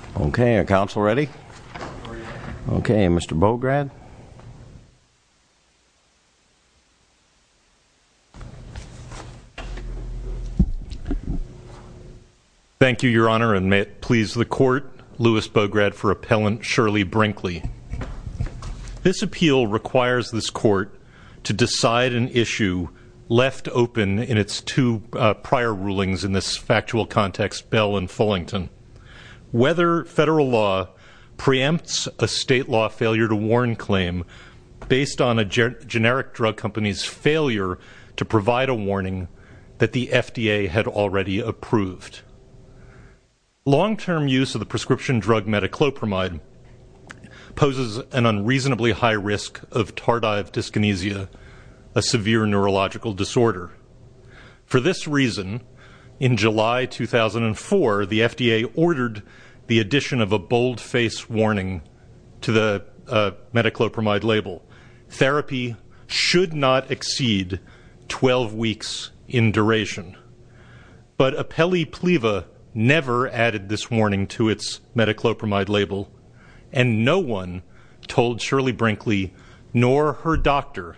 Lewis Bograd v. Appellant Shirley Brinkley Thank you, Your Honor, and may it please the Court, Lewis Bograd v. Appellant Shirley Brinkley. This appeal requires this Court to decide an issue left open in its two prior rulings in this factual context, Bell v. Fullington, whether federal law preempts a state law failure to warn claim based on a generic drug company's failure to provide a warning that the FDA had already approved. Long-term use of the prescription drug metoclopramide poses an In July 2004, the FDA ordered the addition of a boldface warning to the metoclopramide label. Therapy should not exceed 12 weeks in duration. But Appellee Pliva never added this warning to its metoclopramide label, and no one told Shirley Brinkley nor her doctor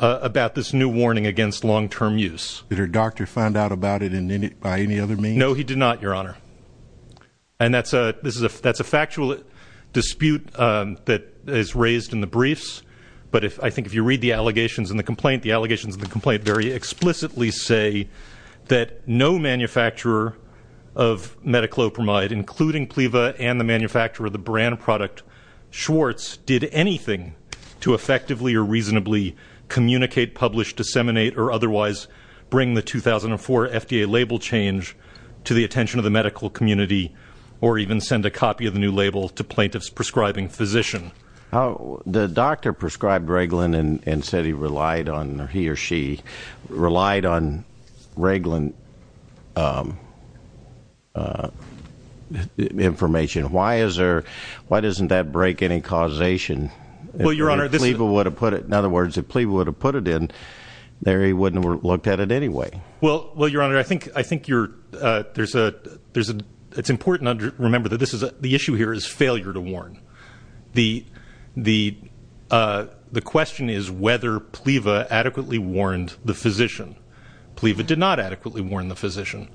about this new warning against long-term use. Did her doctor find out about it by any other means? No, he did not, Your Honor. And that's a factual dispute that is raised in the briefs, but I think if you read the allegations in the complaint, the allegations in the complaint very explicitly say that no manufacturer of metoclopramide, including Pliva and the manufacturer of the brand product, Schwartz, did anything to effectively or reasonably communicate, publish, disseminate, or otherwise bring the 2004 FDA label change to the attention of the medical community or even send a copy of the new label to plaintiffs prescribing physician. The doctor prescribed Reglan and said he relied on, he or she relied on Reglan information. Why isn't there, why doesn't that break any causation? Well, Your Honor, this If Pliva would have put it, in other words, if Pliva would have put it in, Larry wouldn't have looked at it anyway. Well, Your Honor, I think you're, there's a, it's important to remember that this is, the issue here is failure to warn. The question is whether Pliva adequately warned the physician. Pliva did not adequately warn the physician.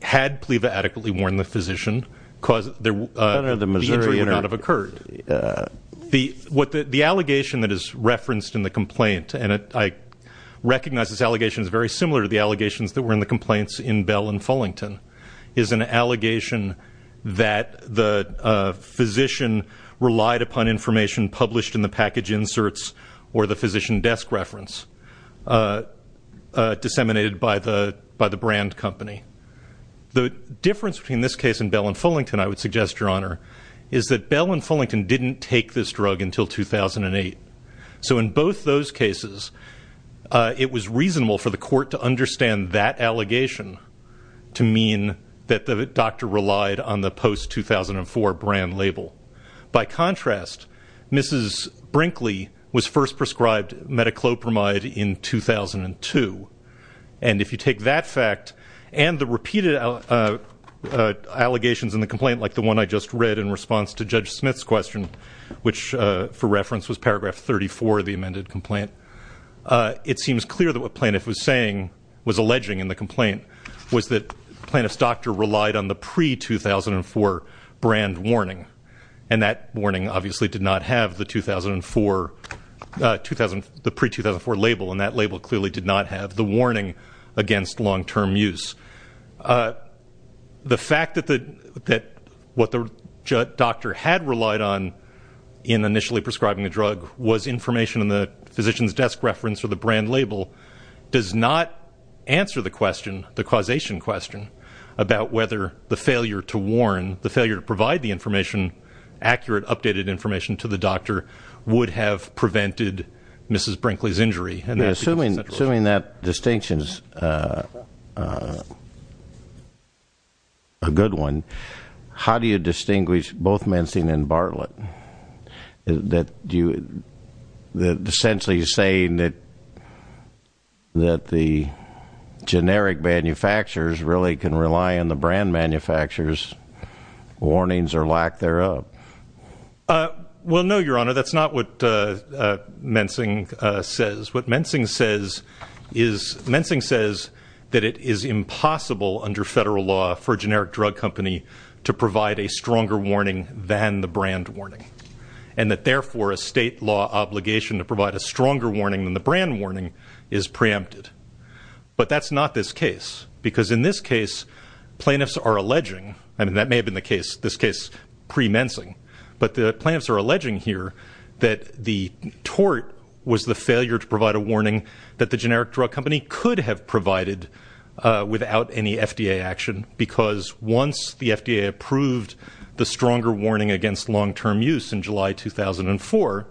Had Pliva adequately warned the physician, the injury would not have occurred. The allegation that is referenced in the complaint, and I recognize this allegation is very similar to the allegations that were in the complaints in Bell and Fullington, is an allegation that the physician relied upon information published in the package inserts or the physician desk reference disseminated by the, by the brand company. The difference between this case and Bell and Fullington, I would suggest, Your Honor, is that Bell and Fullington didn't take this drug until 2008. So in both those cases, it was reasonable for the court to understand that allegation to mean that the doctor relied on the post-2004 brand label. By contrast, Mrs. Brinkley was first prescribed metoclopramide in 2002. And if you take that fact and the repeated allegations in the complaint, like the one I just read in response to Judge Smith's question, which, for reference, was paragraph 34 of the amended complaint, it seems clear that what Plaintiff was saying, in the complaint, was that Plaintiff's doctor relied on the pre-2004 brand warning. And that warning obviously did not have the 2004, the pre-2004 label. And that label clearly did not have the warning against long-term use. The fact that what the doctor had relied on in initially prescribing the drug was information in the physician's desk reference or the brand label. Does not answer the question, the causation question, about whether the failure to warn, the failure to provide the information, accurate, updated information to the doctor, would have prevented Mrs. Brinkley's injury. And that's- Assuming that distinction's a good one, how do you distinguish both mensing and Bartlett? That essentially you're saying that the generic manufacturers really can rely on the brand manufacturers' warnings or lack thereof. Well, no, your honor, that's not what mensing says. What mensing says is, mensing says that it is impossible under federal law for a generic drug company to provide a stronger warning than the brand warning. And that therefore, a state law obligation to provide a stronger warning than the brand warning is preempted. But that's not this case, because in this case, plaintiffs are alleging, and that may have been the case, this case pre-mensing, but the plaintiffs are alleging here that the tort was the failure to provide a warning that the generic drug company could have provided without any FDA action. Because once the FDA approved the stronger warning against long-term use in July 2004,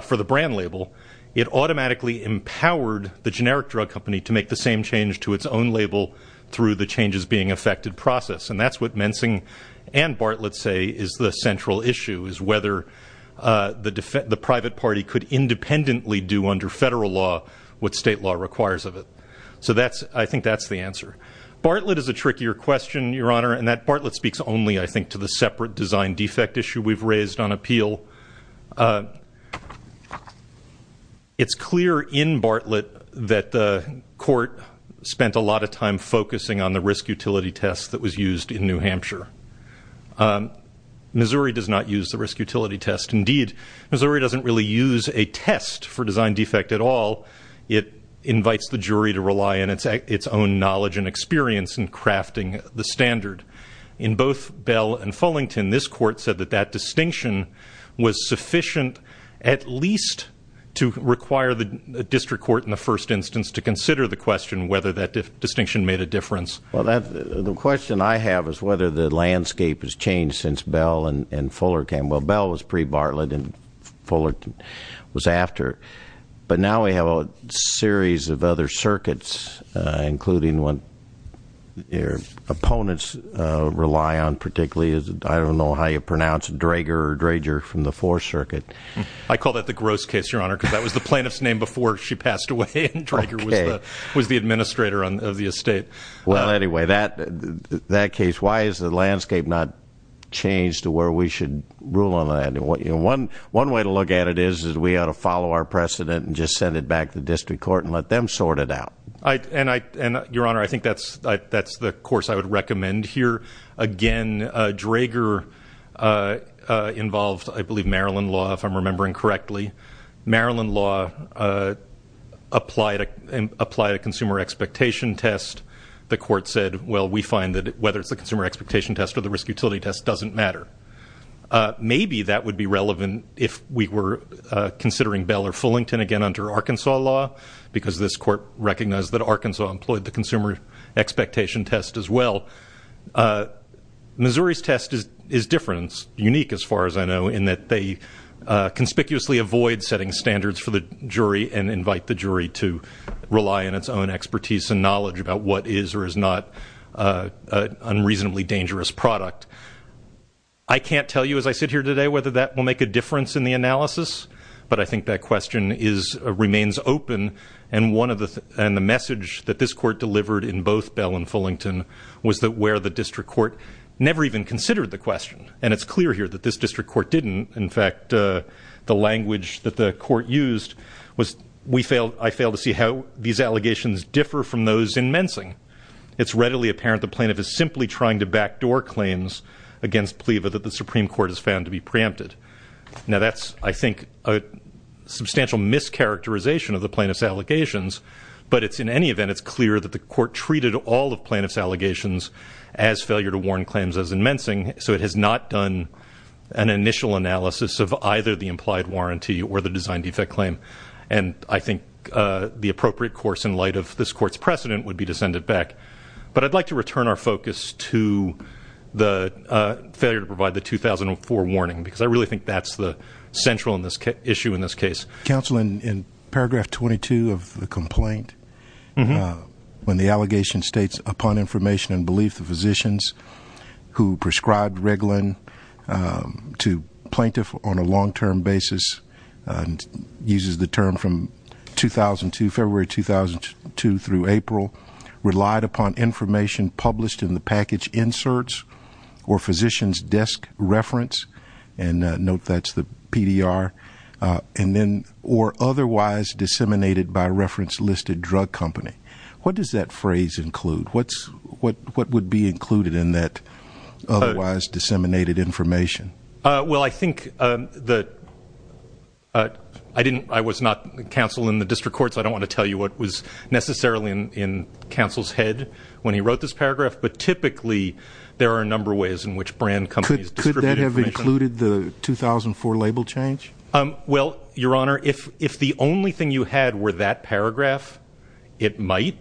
for the brand label, it automatically empowered the generic drug company to make the same change to its own label through the changes being effected process, and that's what mensing and Bartlett say is the central issue, is whether the private party could independently do under federal law what state law requires of it. So I think that's the answer. Bartlett is a trickier question, your honor, and that Bartlett speaks only, I think, to the separate design defect issue we've raised on appeal. It's clear in Bartlett that the court spent a lot of time focusing on the risk utility test that was used in New Hampshire. Missouri does not use the risk utility test. Indeed, Missouri doesn't really use a test for design defect at all. It invites the jury to rely on its own knowledge and experience in crafting the standard. In both Bell and Fullington, this court said that that distinction was sufficient at least to require the district court in the first instance to consider the question whether that distinction made a difference. Well, the question I have is whether the landscape has changed since Bell and Fuller came. Well, Bell was pre-Bartlett and Fullerton was after. But now we have a series of other circuits, including one, that opponents rely on particularly, I don't know how you pronounce it, Drager or Drager from the Fourth Circuit. I call that the gross case, your honor, because that was the plaintiff's name before she passed away and Drager was the administrator of the estate. Well, anyway, that case, why has the landscape not changed to where we should rule on that? One way to look at it is we ought to follow our precedent and just send it back to the district court and let them sort it out. And your honor, I think that's the course I would recommend here. Again, Drager involved, I believe, Maryland law, if I'm remembering correctly. Maryland law applied a consumer expectation test. The court said, well, we find that whether it's the consumer expectation test or the risk utility test doesn't matter. Maybe that would be relevant if we were considering Bell or Fullington again under Arkansas law. Because this court recognized that Arkansas employed the consumer expectation test as well. Missouri's test is different, unique as far as I know, in that they conspicuously avoid setting standards for the jury and invite the jury to rely on its own expertise and knowledge about what is or is not an unreasonably dangerous product. I can't tell you as I sit here today whether that will make a difference in the analysis, but I think that question remains open and the message that this court delivered in both Bell and Fullington was that where the district court never even considered the question. And it's clear here that this district court didn't. In fact, the language that the court used was I fail to see how these allegations differ from those in Mensing. It's readily apparent the plaintiff is simply trying to backdoor claims against PLEVA that the Supreme Court has found to be preempted. Now that's, I think, a substantial mischaracterization of the plaintiff's allegations. But in any event, it's clear that the court treated all of plaintiff's allegations as failure to warn claims as in Mensing. So it has not done an initial analysis of either the implied warranty or the design defect claim. And I think the appropriate course in light of this court's precedent would be to send it back. But I'd like to return our focus to the failure to provide the 2004 warning. Because I really think that's the central issue in this case. Councilman, in paragraph 22 of the complaint, when the allegation states upon information and belief the physicians who prescribed Reglan to plaintiff on a long term basis. Uses the term from 2002, February 2002 through April. Relied upon information published in the package inserts or physician's desk reference, and note that's the PDR. And then, or otherwise disseminated by reference listed drug company. What does that phrase include? What would be included in that otherwise disseminated information? Well, I think that I was not counsel in the district court, so I don't want to tell you what was necessarily in counsel's head when he wrote this paragraph. But typically, there are a number of ways in which brand companies distribute information. Could that have included the 2004 label change? Well, your honor, if the only thing you had were that paragraph, it might.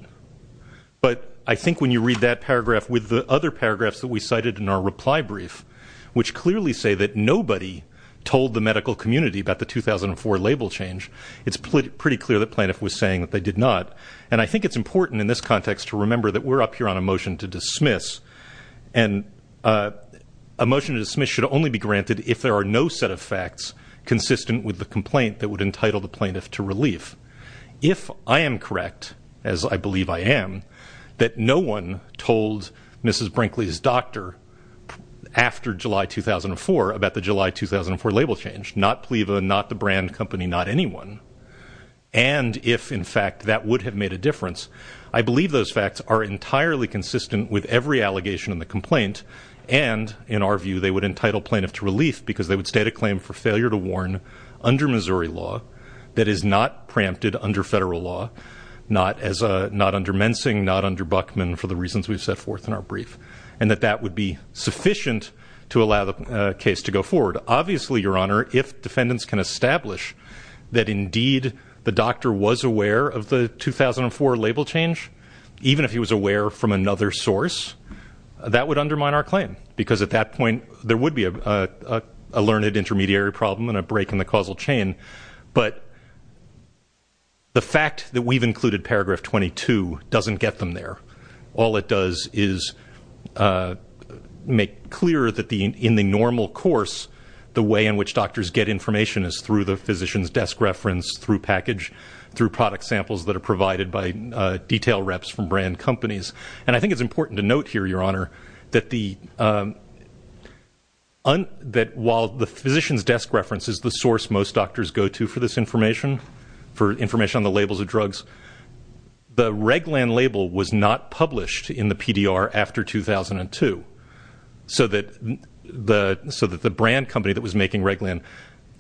But I think when you read that paragraph with the other paragraphs that we cited in our reply brief, which clearly say that nobody told the medical community about the 2004 label change. It's pretty clear that plaintiff was saying that they did not. And I think it's important in this context to remember that we're up here on a motion to dismiss. And a motion to dismiss should only be granted if there are no set of facts consistent with the complaint that would entitle the plaintiff to relief. If I am correct, as I believe I am, that no one told Mrs. Brinkley's doctor after July 2004 about the July 2004 label change. Not PLEVA, not the brand company, not anyone. And if, in fact, that would have made a difference. I believe those facts are entirely consistent with every allegation in the complaint. And in our view, they would entitle plaintiff to relief because they would state a claim for failure to warn under Missouri law that is not preempted under federal law. Not under Mensing, not under Buckman for the reasons we've set forth in our brief. And that that would be sufficient to allow the case to go forward. Obviously, your honor, if defendants can establish that indeed the doctor was aware of the 2004 label change, even if he was aware from another source, that would undermine our claim. Because at that point, there would be a learned intermediary problem and a break in the causal chain. But the fact that we've included paragraph 22 doesn't get them there. All it does is make clear that in the normal course, the way in which doctors get information is through the physician's desk reference, through package, through product samples that are provided by detail reps from brand companies. And I think it's important to note here, your honor, that while the physician's go to for this information, for information on the labels of drugs, the Reglan label was not published in the PDR after 2002. So that the brand company that was making Reglan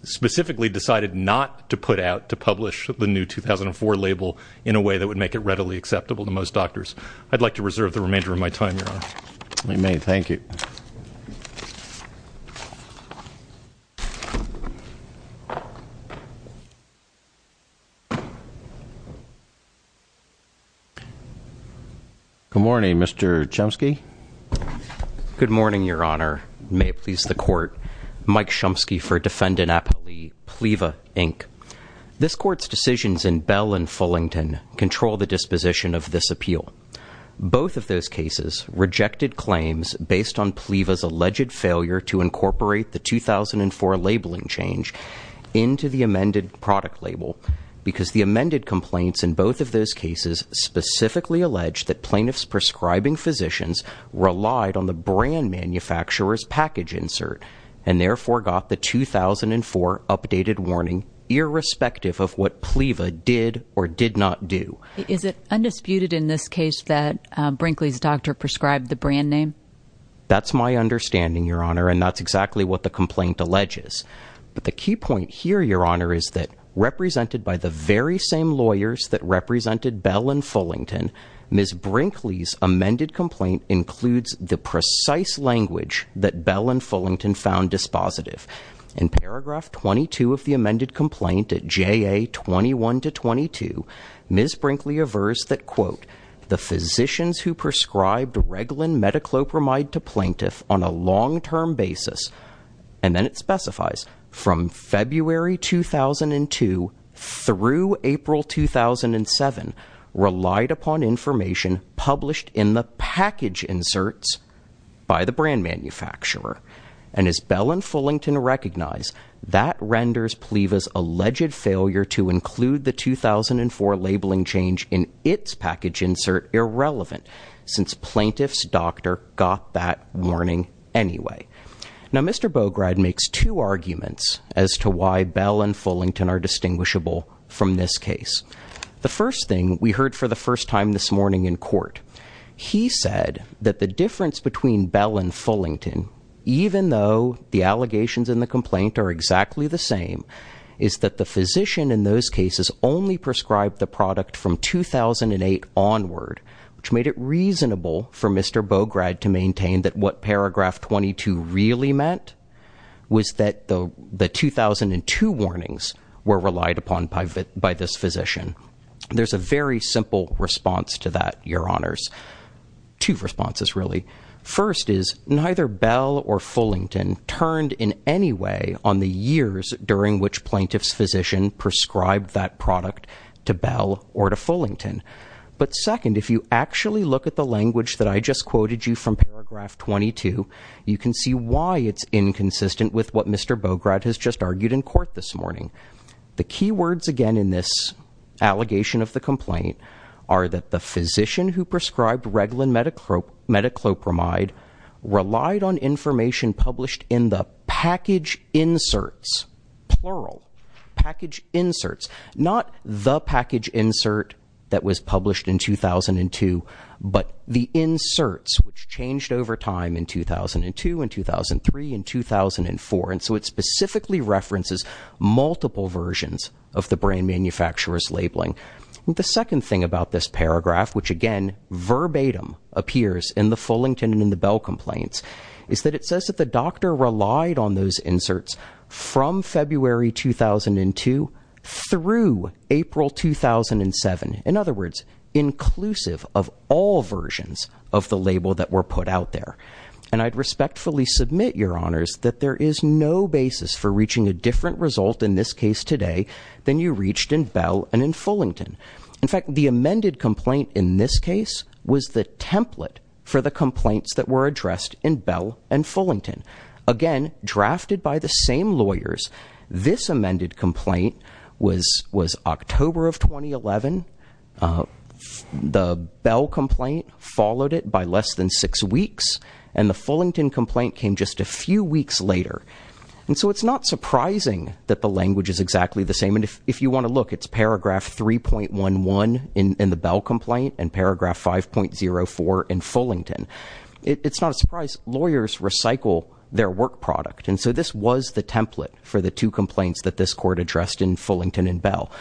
specifically decided not to put out, to publish the new 2004 label in a way that would make it readily acceptable to most doctors. I'd like to reserve the remainder of my time, your honor. We may, thank you. Good morning, Mr. Chomsky. Good morning, your honor. May it please the court. Mike Chomsky for Defendant Appley, Pleva, Inc. This court's decisions in Bell and Fullington control the disposition of this appeal. Both of those cases rejected claims based on Pleva's alleged failure to incorporate the 2004 labeling change into the amended product label. Because the amended complaints in both of those cases specifically alleged that plaintiff's prescribing physicians relied on the brand manufacturer's package insert. And therefore got the 2004 updated warning, irrespective of what Pleva did or did not do. Is it undisputed in this case that Brinkley's doctor prescribed the brand name? That's my understanding, your honor, and that's exactly what the complaint alleges. But the key point here, your honor, is that represented by the very same lawyers that represented Bell and Fullington. Ms. Brinkley's amended complaint includes the precise language that Bell and Fullington found dispositive. In paragraph 22 of the amended complaint at JA 21 to 22, Ms. Brinkley averts that, quote, the physicians who prescribed Reglan metoclopramide to plaintiff on a long term basis. And then it specifies, from February 2002 through April 2007, relied upon information published in the package inserts by the brand manufacturer. And as Bell and Fullington recognize, that renders Pleva's alleged failure to include the 2004 labeling change in its package insert irrelevant, since plaintiff's doctor got that warning anyway. Now Mr. Bograd makes two arguments as to why Bell and Fullington are distinguishable from this case. The first thing, we heard for the first time this morning in court. He said that the difference between Bell and Fullington, even though the allegations in the complaint are exactly the same, is that the physician in those cases only prescribed the product from 2008 onward. Which made it reasonable for Mr. Bograd to maintain that what paragraph 22 really meant was that the 2002 warnings were relied upon by this physician. There's a very simple response to that, your honors. Two responses, really. First is, neither Bell or Fullington turned in any way on the years during which plaintiff's physician prescribed that product to Bell or to Fullington. But second, if you actually look at the language that I just quoted you from paragraph 22, you can see why it's inconsistent with what Mr. Bograd has just argued in court this morning. The key words again in this allegation of the complaint are that the physician who prescribed Reglan metoclopramide relied on information published in the package inserts, plural, package inserts. Not the package insert that was published in 2002, but the inserts which changed over time in 2002 and 2003 and 2004. And so it specifically references multiple versions of the brand manufacturer's labeling. The second thing about this paragraph, which again verbatim appears in the Fullington and in the Bell complaints, is that it says that the doctor relied on those inserts from February 2002 through April 2007. In other words, inclusive of all versions of the label that were put out there. And I'd respectfully submit, your honors, that there is no basis for reaching a different result in this case today than you reached in Bell and in Fullington. In fact, the amended complaint in this case was the template for the complaints that were addressed in Bell and Fullington. Again, drafted by the same lawyers, this amended complaint was October of 2011. The Bell complaint followed it by less than six weeks, and the Fullington complaint came just a few weeks later. And so it's not surprising that the language is exactly the same. And if you want to look, it's paragraph 3.11 in the Bell complaint and paragraph 5.04 in Fullington. It's not a surprise, lawyers recycle their work product. And so this was the template for the two complaints that this court addressed in Fullington and Bell.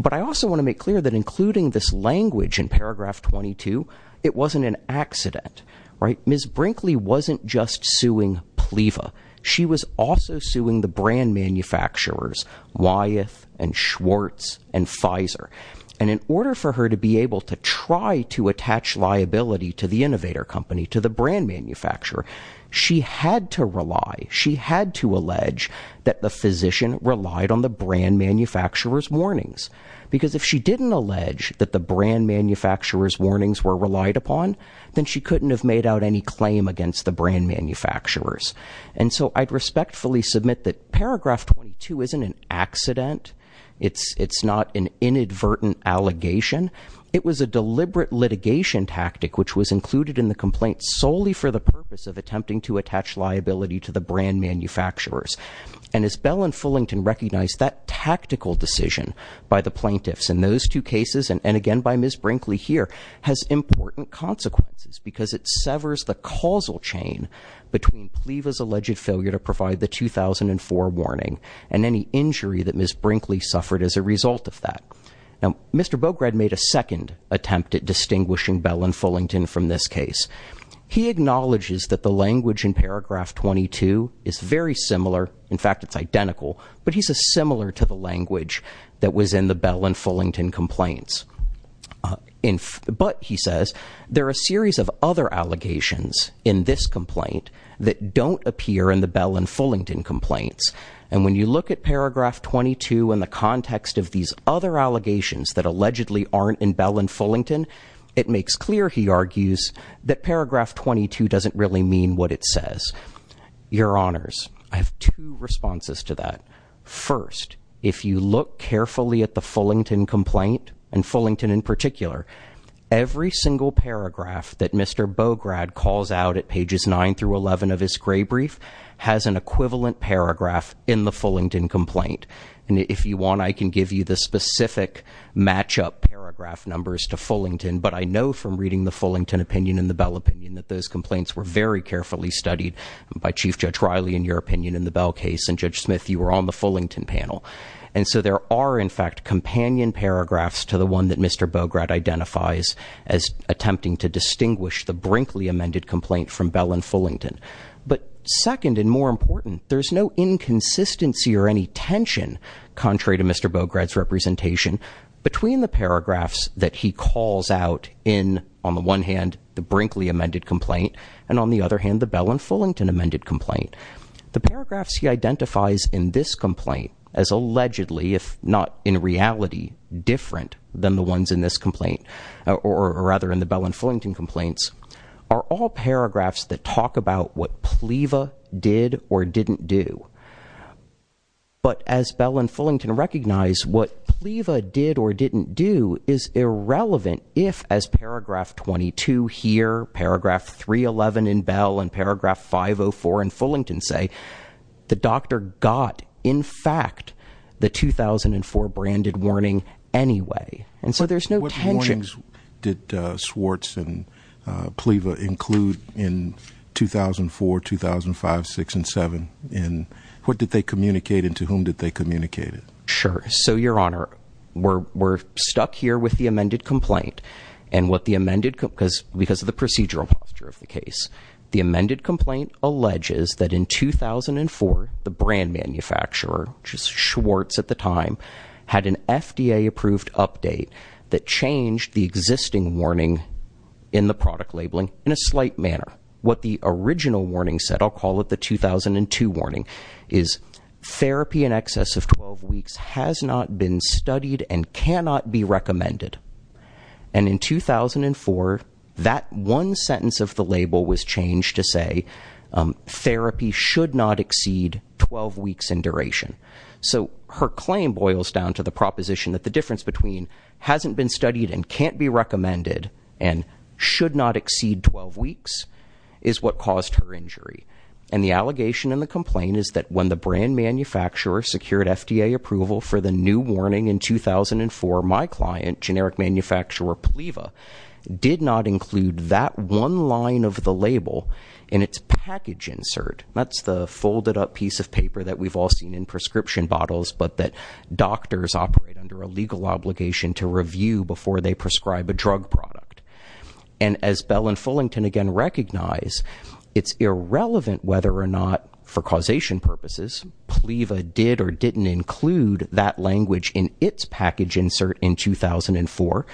But I also want to make clear that including this language in paragraph 22, it wasn't an accident, right? Ms. Brinkley wasn't just suing PLEVA. She was also suing the brand manufacturers, Wyeth and Schwartz and Pfizer. And in order for her to be able to try to attach liability to the innovator company, to the brand manufacturer, she had to rely. She had to allege that the physician relied on the brand manufacturer's warnings. Because if she didn't allege that the brand manufacturer's warnings were relied upon, then she couldn't have made out any claim against the brand manufacturers. And so I'd respectfully submit that paragraph 22 isn't an accident. It's not an inadvertent allegation. Again, it was a deliberate litigation tactic which was included in the complaint solely for the purpose of attempting to attach liability to the brand manufacturers. And as Bell and Fullington recognized, that tactical decision by the plaintiffs in those two cases, and again by Ms. Brinkley here, has important consequences because it severs the causal chain between PLEVA's alleged failure to provide the 2004 warning and any injury that Ms. Brinkley suffered as a result of that. Now, Mr. Bograd made a second attempt at distinguishing Bell and Fullington from this case. He acknowledges that the language in paragraph 22 is very similar, in fact it's identical, but he says similar to the language that was in the Bell and Fullington complaints. But, he says, there are a series of other allegations in this complaint that don't appear in the Bell and Fullington complaints. And when you look at paragraph 22 in the context of these other allegations that allegedly aren't in Bell and Fullington, it makes clear, he argues, that paragraph 22 doesn't really mean what it says. Your honors, I have two responses to that. First, if you look carefully at the Fullington complaint, and Fullington in particular, every single paragraph that Mr. Bograd calls out at pages 9 through 11 of his gray brief has an equivalent paragraph in the Fullington complaint. And if you want, I can give you the specific match-up paragraph numbers to Fullington, but I know from reading the Fullington opinion and the Bell opinion that those complaints were very carefully studied by Chief Judge Riley, in your opinion, in the Bell case. And Judge Smith, you were on the Fullington panel. And so there are, in fact, companion paragraphs to the one that Mr. Bograd identifies as attempting to distinguish the Brinkley amended complaint from Bell and Fullington. But second and more important, there's no inconsistency or any tension, contrary to Mr. Bograd's representation, between the paragraphs that he calls out in, on the one hand, the Brinkley amended complaint. And on the other hand, the Bell and Fullington amended complaint. The paragraphs he identifies in this complaint as allegedly, if not in reality, different than the ones in this complaint, or rather in the Bell and Fullington complaints, are all paragraphs that talk about what Pleva did or didn't do. But as Bell and Fullington recognize, what Pleva did or didn't do is irrelevant if, as paragraph 22 here, paragraph 311 in Bell, and paragraph 504 in Fullington say, the doctor got, in fact, the 2004 branded warning anyway. And so there's no tension. What warnings did Schwartz and Pleva include in 2004, 2005, six and seven, and what did they communicate and to whom did they communicate it? Sure, so your honor, we're stuck here with the amended complaint. And what the amended, because of the procedural posture of the case. The amended complaint alleges that in 2004, the brand manufacturer, which is Schwartz at the time, had an FDA approved update that changed the existing warning in the product labeling in a slight manner. What the original warning said, I'll call it the 2002 warning, is therapy in excess of 12 weeks has not been studied and cannot be recommended. And in 2004, that one sentence of the label was changed to say, therapy should not exceed 12 weeks in duration. So her claim boils down to the proposition that the difference between hasn't been studied and can't be recommended and should not exceed 12 weeks is what caused her injury. And the allegation in the complaint is that when the brand manufacturer secured FDA approval for the new warning in 2004, my client, generic manufacturer Pleva, did not include that one line of the label in its package insert. That's the folded up piece of paper that we've all seen in prescription bottles, but that doctors operate under a legal obligation to review before they prescribe a drug product. And as Bell and Fullington again recognize, it's irrelevant whether or not for causation purposes, Pleva did or didn't include that language in its package insert in 2004.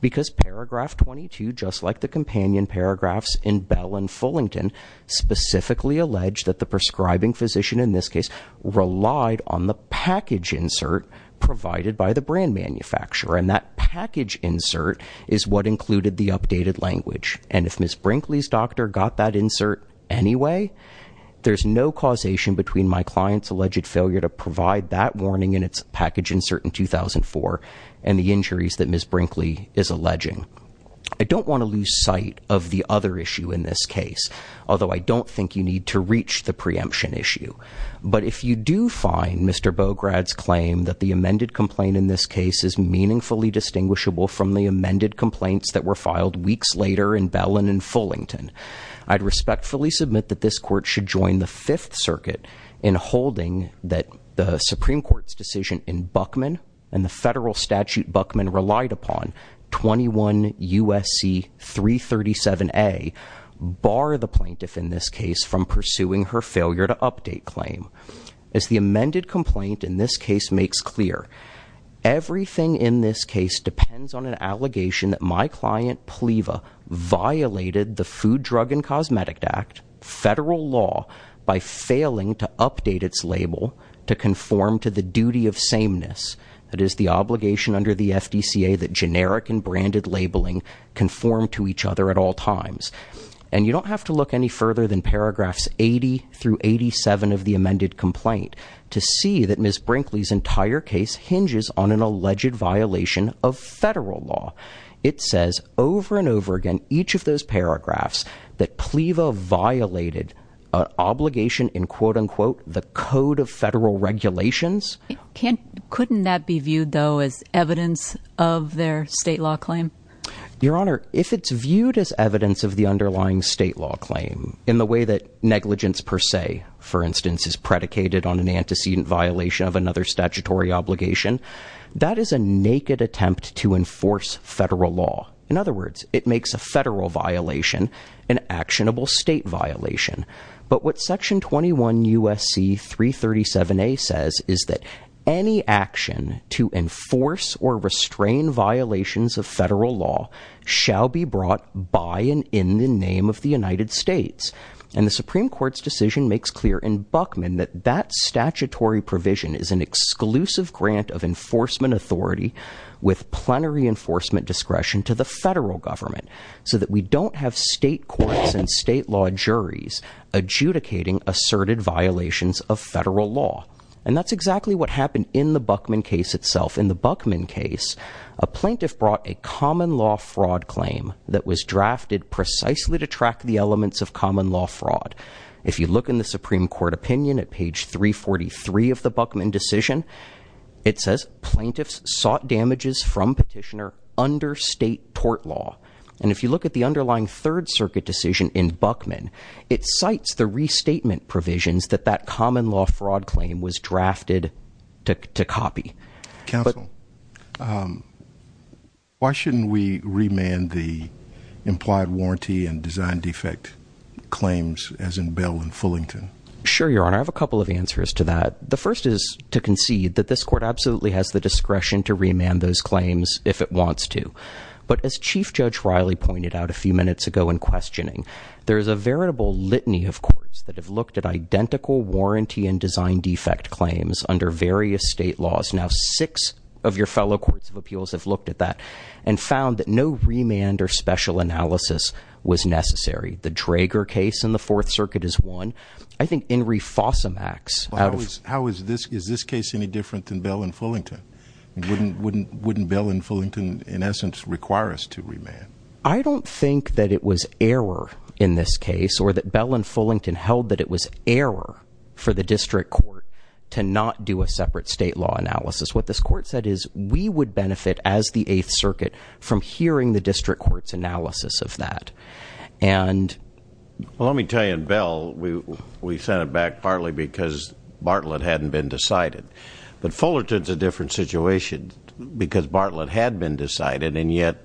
Because paragraph 22, just like the companion paragraphs in Bell and Fullington, specifically allege that the prescribing physician in this case relied on the package insert provided by the brand manufacturer. And that package insert is what included the updated language. And if Ms. Brinkley's doctor got that insert anyway, there's no causation between my client's alleged failure to provide that warning in its package insert in 2004 and the injuries that Ms. Brinkley is alleging. I don't want to lose sight of the other issue in this case, although I don't think you need to reach the preemption issue. But if you do find Mr. Bograd's claim that the amended complaint in this case is meaningfully distinguishable from the amended complaints that were filed weeks later in Bell and in Fullington, I'd respectfully submit that this court should join the Fifth Circuit in holding that the Supreme Court's decision in Buckman and the federal statute Buckman relied upon, 21 USC 337A, bar the plaintiff in this case from pursuing her failure to update claim. As the amended complaint in this case makes clear, everything in this case depends on an allegation that my client, Pleva, violated the Food, Drug, and Cosmetic Act, federal law, by failing to update its label to conform to the duty of sameness. It is the obligation under the FDCA that generic and branded labeling conform to each other at all times. And you don't have to look any further than paragraphs 80 through 87 of the amended complaint to see that Ms. Brinkley's entire case hinges on an alleged violation of federal law. It says over and over again, each of those paragraphs, that Pleva violated an obligation in, quote unquote, the code of federal regulations. Couldn't that be viewed, though, as evidence of their state law claim? Your Honor, if it's viewed as evidence of the underlying state law claim in the way that negligence per se, for instance, is predicated on an antecedent violation of another statutory obligation, that is a naked attempt to enforce federal law. In other words, it makes a federal violation an actionable state violation. But what Section 21 U.S.C. 337a says is that any action to enforce or restrain violations of federal law shall be brought by and in the name of the United States. And the Supreme Court's decision makes clear in Buchman that that statutory provision is an exclusive grant of enforcement authority with plenary enforcement discretion to the federal government so that we don't have state courts and state law juries adjudicating asserted violations of federal law. And that's exactly what happened in the Buchman case itself. In the Buchman case, a plaintiff brought a common law fraud claim that was drafted precisely to track the elements of common law fraud. If you look in the Supreme Court opinion at page 343 of the Buchman decision, it says plaintiffs sought damages from petitioner under state tort law. And if you look at the underlying Third Circuit decision in Buchman, it cites the restatement provisions that that common law fraud claim was drafted to copy. Counsel, why shouldn't we remand the implied warranty and design defect claims as in Bell and Fullington? Sure, Your Honor. I have a couple of answers to that. The first is to concede that this court absolutely has the discretion to remand those claims if it wants to. But as Chief Judge Riley pointed out a few minutes ago in questioning, there is a veritable litany of courts that have looked at identical warranty and design defect claims under various state laws. Now, six of your fellow courts of appeals have looked at that and found that no remand or special analysis was necessary. The Drager case in the Fourth Circuit is one. I think Henry Fossamax- How is this case any different than Bell and Fullington? Wouldn't Bell and Fullington, in essence, require us to remand? I don't think that it was error in this case or that Bell and Fullington held that it was error for the district court to not do a separate state law analysis. What this court said is we would benefit as the Eighth Circuit from hearing the district court's analysis of that. Well, let me tell you, in Bell, we sent it back partly because Bartlett hadn't been decided. But Fullerton's a different situation because Bartlett had been decided and yet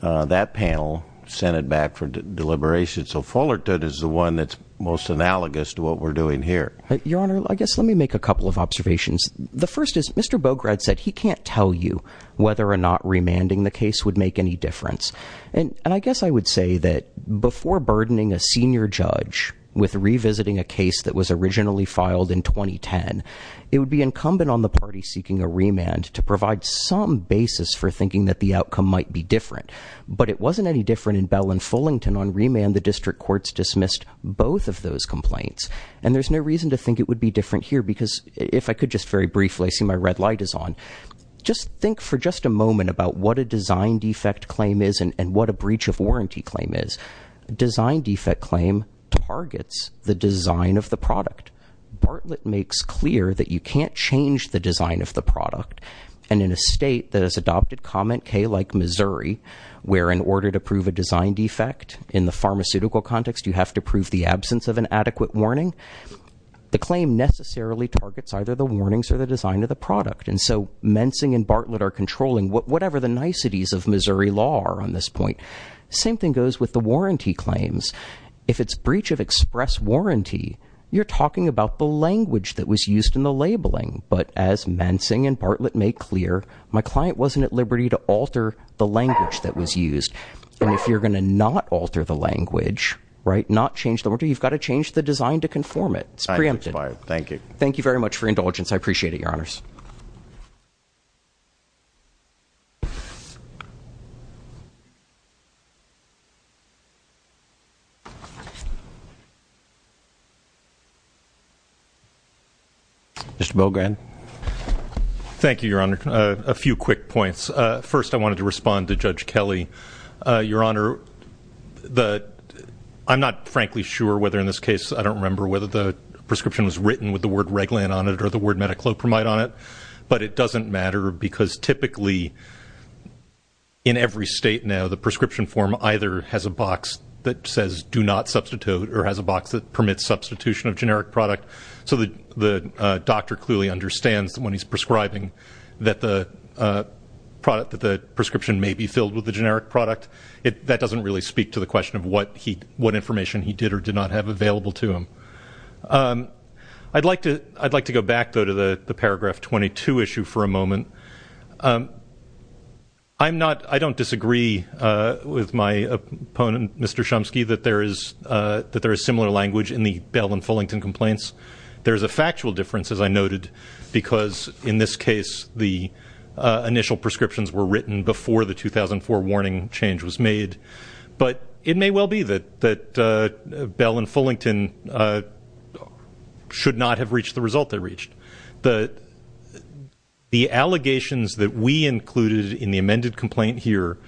that panel sent it back for deliberation. So Fullerton is the one that's most analogous to what we're doing here. Your Honor, I guess let me make a couple of observations. The first is Mr. Bograd said he can't tell you whether or not remanding the case would make any difference. And I guess I would say that before burdening a senior judge with revisiting a case that was originally filed in 2010, it would be incumbent on the party seeking a remand to provide some basis for thinking that the outcome might be different. But it wasn't any different in Bell and Fullerton. On remand, the district courts dismissed both of those complaints. And there's no reason to think it would be different here because if I could just very briefly see my red light is on, just think for just a moment about what a design defect claim is and what a breach of warranty claim is. Design defect claim targets the design of the product. Bartlett makes clear that you can't change the design of the product. And in a state that has adopted comment K like Missouri, where in order to prove a design defect in the pharmaceutical context, you have to prove the absence of an adequate warning. The claim necessarily targets either the warnings or the design of the product. And so Mensing and Bartlett are controlling whatever the niceties of Missouri law are on this point. Same thing goes with the warranty claims. If it's breach of express warranty, you're talking about the language that was used in the labeling. But as Mensing and Bartlett make clear, my client wasn't at liberty to alter the language that was used. And if you're going to not alter the language, right, not change the order, you've got to change the design to conform it. It's preempted. Thank you. Thank you very much for your indulgence. I appreciate it, your honors. Mr. Bogren. Thank you, your honor. A few quick points. First, I wanted to respond to Judge Kelly. Your honor, I'm not frankly sure whether in this case, I don't remember whether the prescription was written with the word Reglan on it or the word metaclopramide on it, but it doesn't matter because typically in every state now, the prescription form either has a box that says do not substitute or has a box that permits substitution of generic product. So the doctor clearly understands that when he's prescribing that the product, that the prescription may be filled with the generic product. That doesn't really speak to the question of what he, what information he did or did not have available to him. I'd like to go back though to the paragraph 22 issue for a moment. I'm not, I don't disagree with my opponent, Mr. Chomsky, that there is similar language in the Bell and Fullington complaints. There's a factual difference, as I noted, because in this case, the initial prescriptions were written before the 2004 warning change was made. But it may well be that Bell and Fullington should not have reached the result they reached. The allegations that we included in the amended complaint here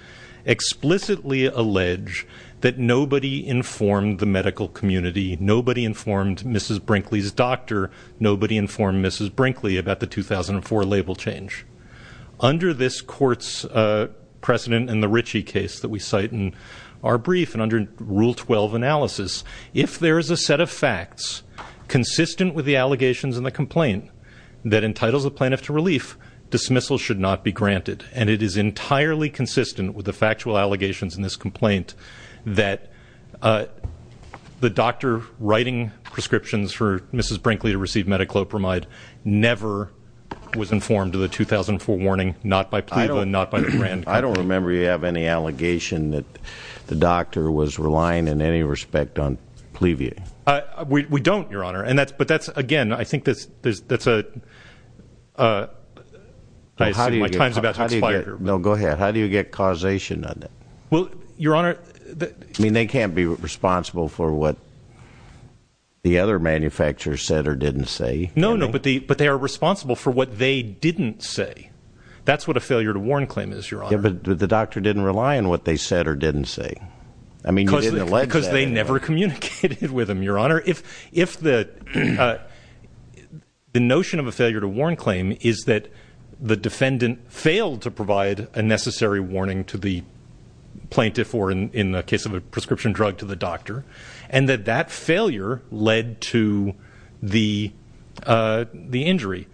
explicitly allege that nobody informed the medical community, nobody informed Mrs. Brinkley's doctor, nobody informed Mrs. Brinkley about the 2004 label change. Under this court's precedent in the Ritchie case that we cite in our brief, and under rule 12 analysis, if there is a set of facts consistent with the allegations in the complaint that entitles a plaintiff to relief, dismissal should not be granted. And it is entirely consistent with the factual allegations in this complaint that the doctor writing prescriptions for Mrs. Brinkley to receive Medi-Qlo Pramide never was informed of the 2004 warning, not by Plato and not by the brand company. I don't remember you have any allegation that the doctor was relying in any respect on Plevue. We don't, Your Honor. And that's, but that's, again, I think that's, that's a, I assume my time's about to expire here. No, go ahead. How do you get causation on that? Well, Your Honor, I mean, they can't be responsible for what the other manufacturer said or didn't say. No, no, but the, but they are responsible for what they didn't say. That's what a failure to warn claim is, Your Honor. Yeah, but the doctor didn't rely on what they said or didn't say. I mean, you didn't allege that. Because they never communicated with him, Your Honor. If, if the, the notion of a failure to warn claim is that the defendant failed to provide a necessary warning to the plaintiff or in the case of a prescription drug to the doctor, and that that failure led to the, the injury,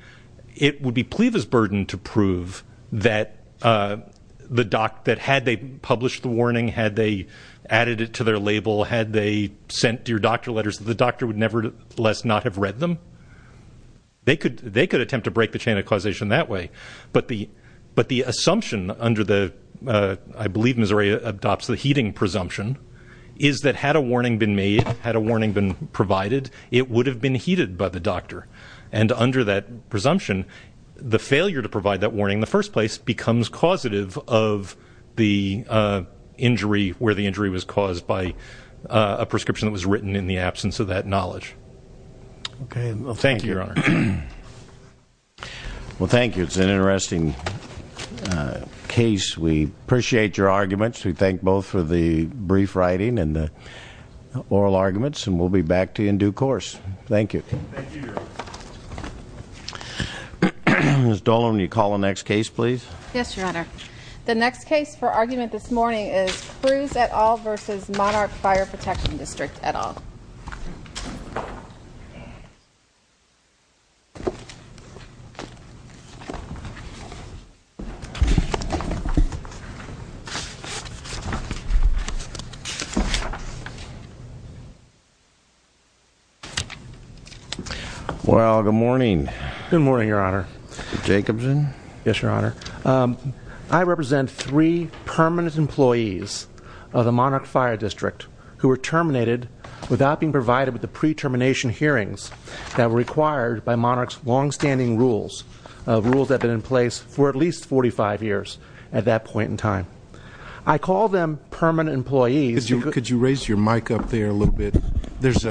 it would be Plevue's burden to prove that the doc, that had they published the warning, had they added it to their label, had they sent your doctor letters, the doctor would nevertheless not have read them. They could, they could attempt to break the chain of causation that way. But the, but the assumption under the, I believe Missouri adopts the heating presumption, is that had a warning been made, had a warning been provided, it would have been heated by the doctor. And under that presumption, the failure to provide that warning in the first place becomes causative of the injury, where the injury was caused by a prescription that was written in the absence of that knowledge. Okay. Thank you, Your Honor. Well, thank you. It's an interesting case. We appreciate your arguments. We thank both for the brief writing and the oral arguments. And we'll be back to you in due course. Thank you. Ms. Dolan, will you call the next case, please? Yes, Your Honor. The next case for argument this morning is Cruz et al. versus Monarch Fire Protection District et al. Well, good morning. Good morning, Your Honor. Jacobson? Yes, Your Honor. I represent three permanent employees of the Monarch Fire District who were terminated without being provided with the pre-termination hearings that were required by Monarch's longstanding rules, rules that have been in place for at least 45 years at that point in time. I call them permanent employees. Could you raise your mic up there a little bit? There's a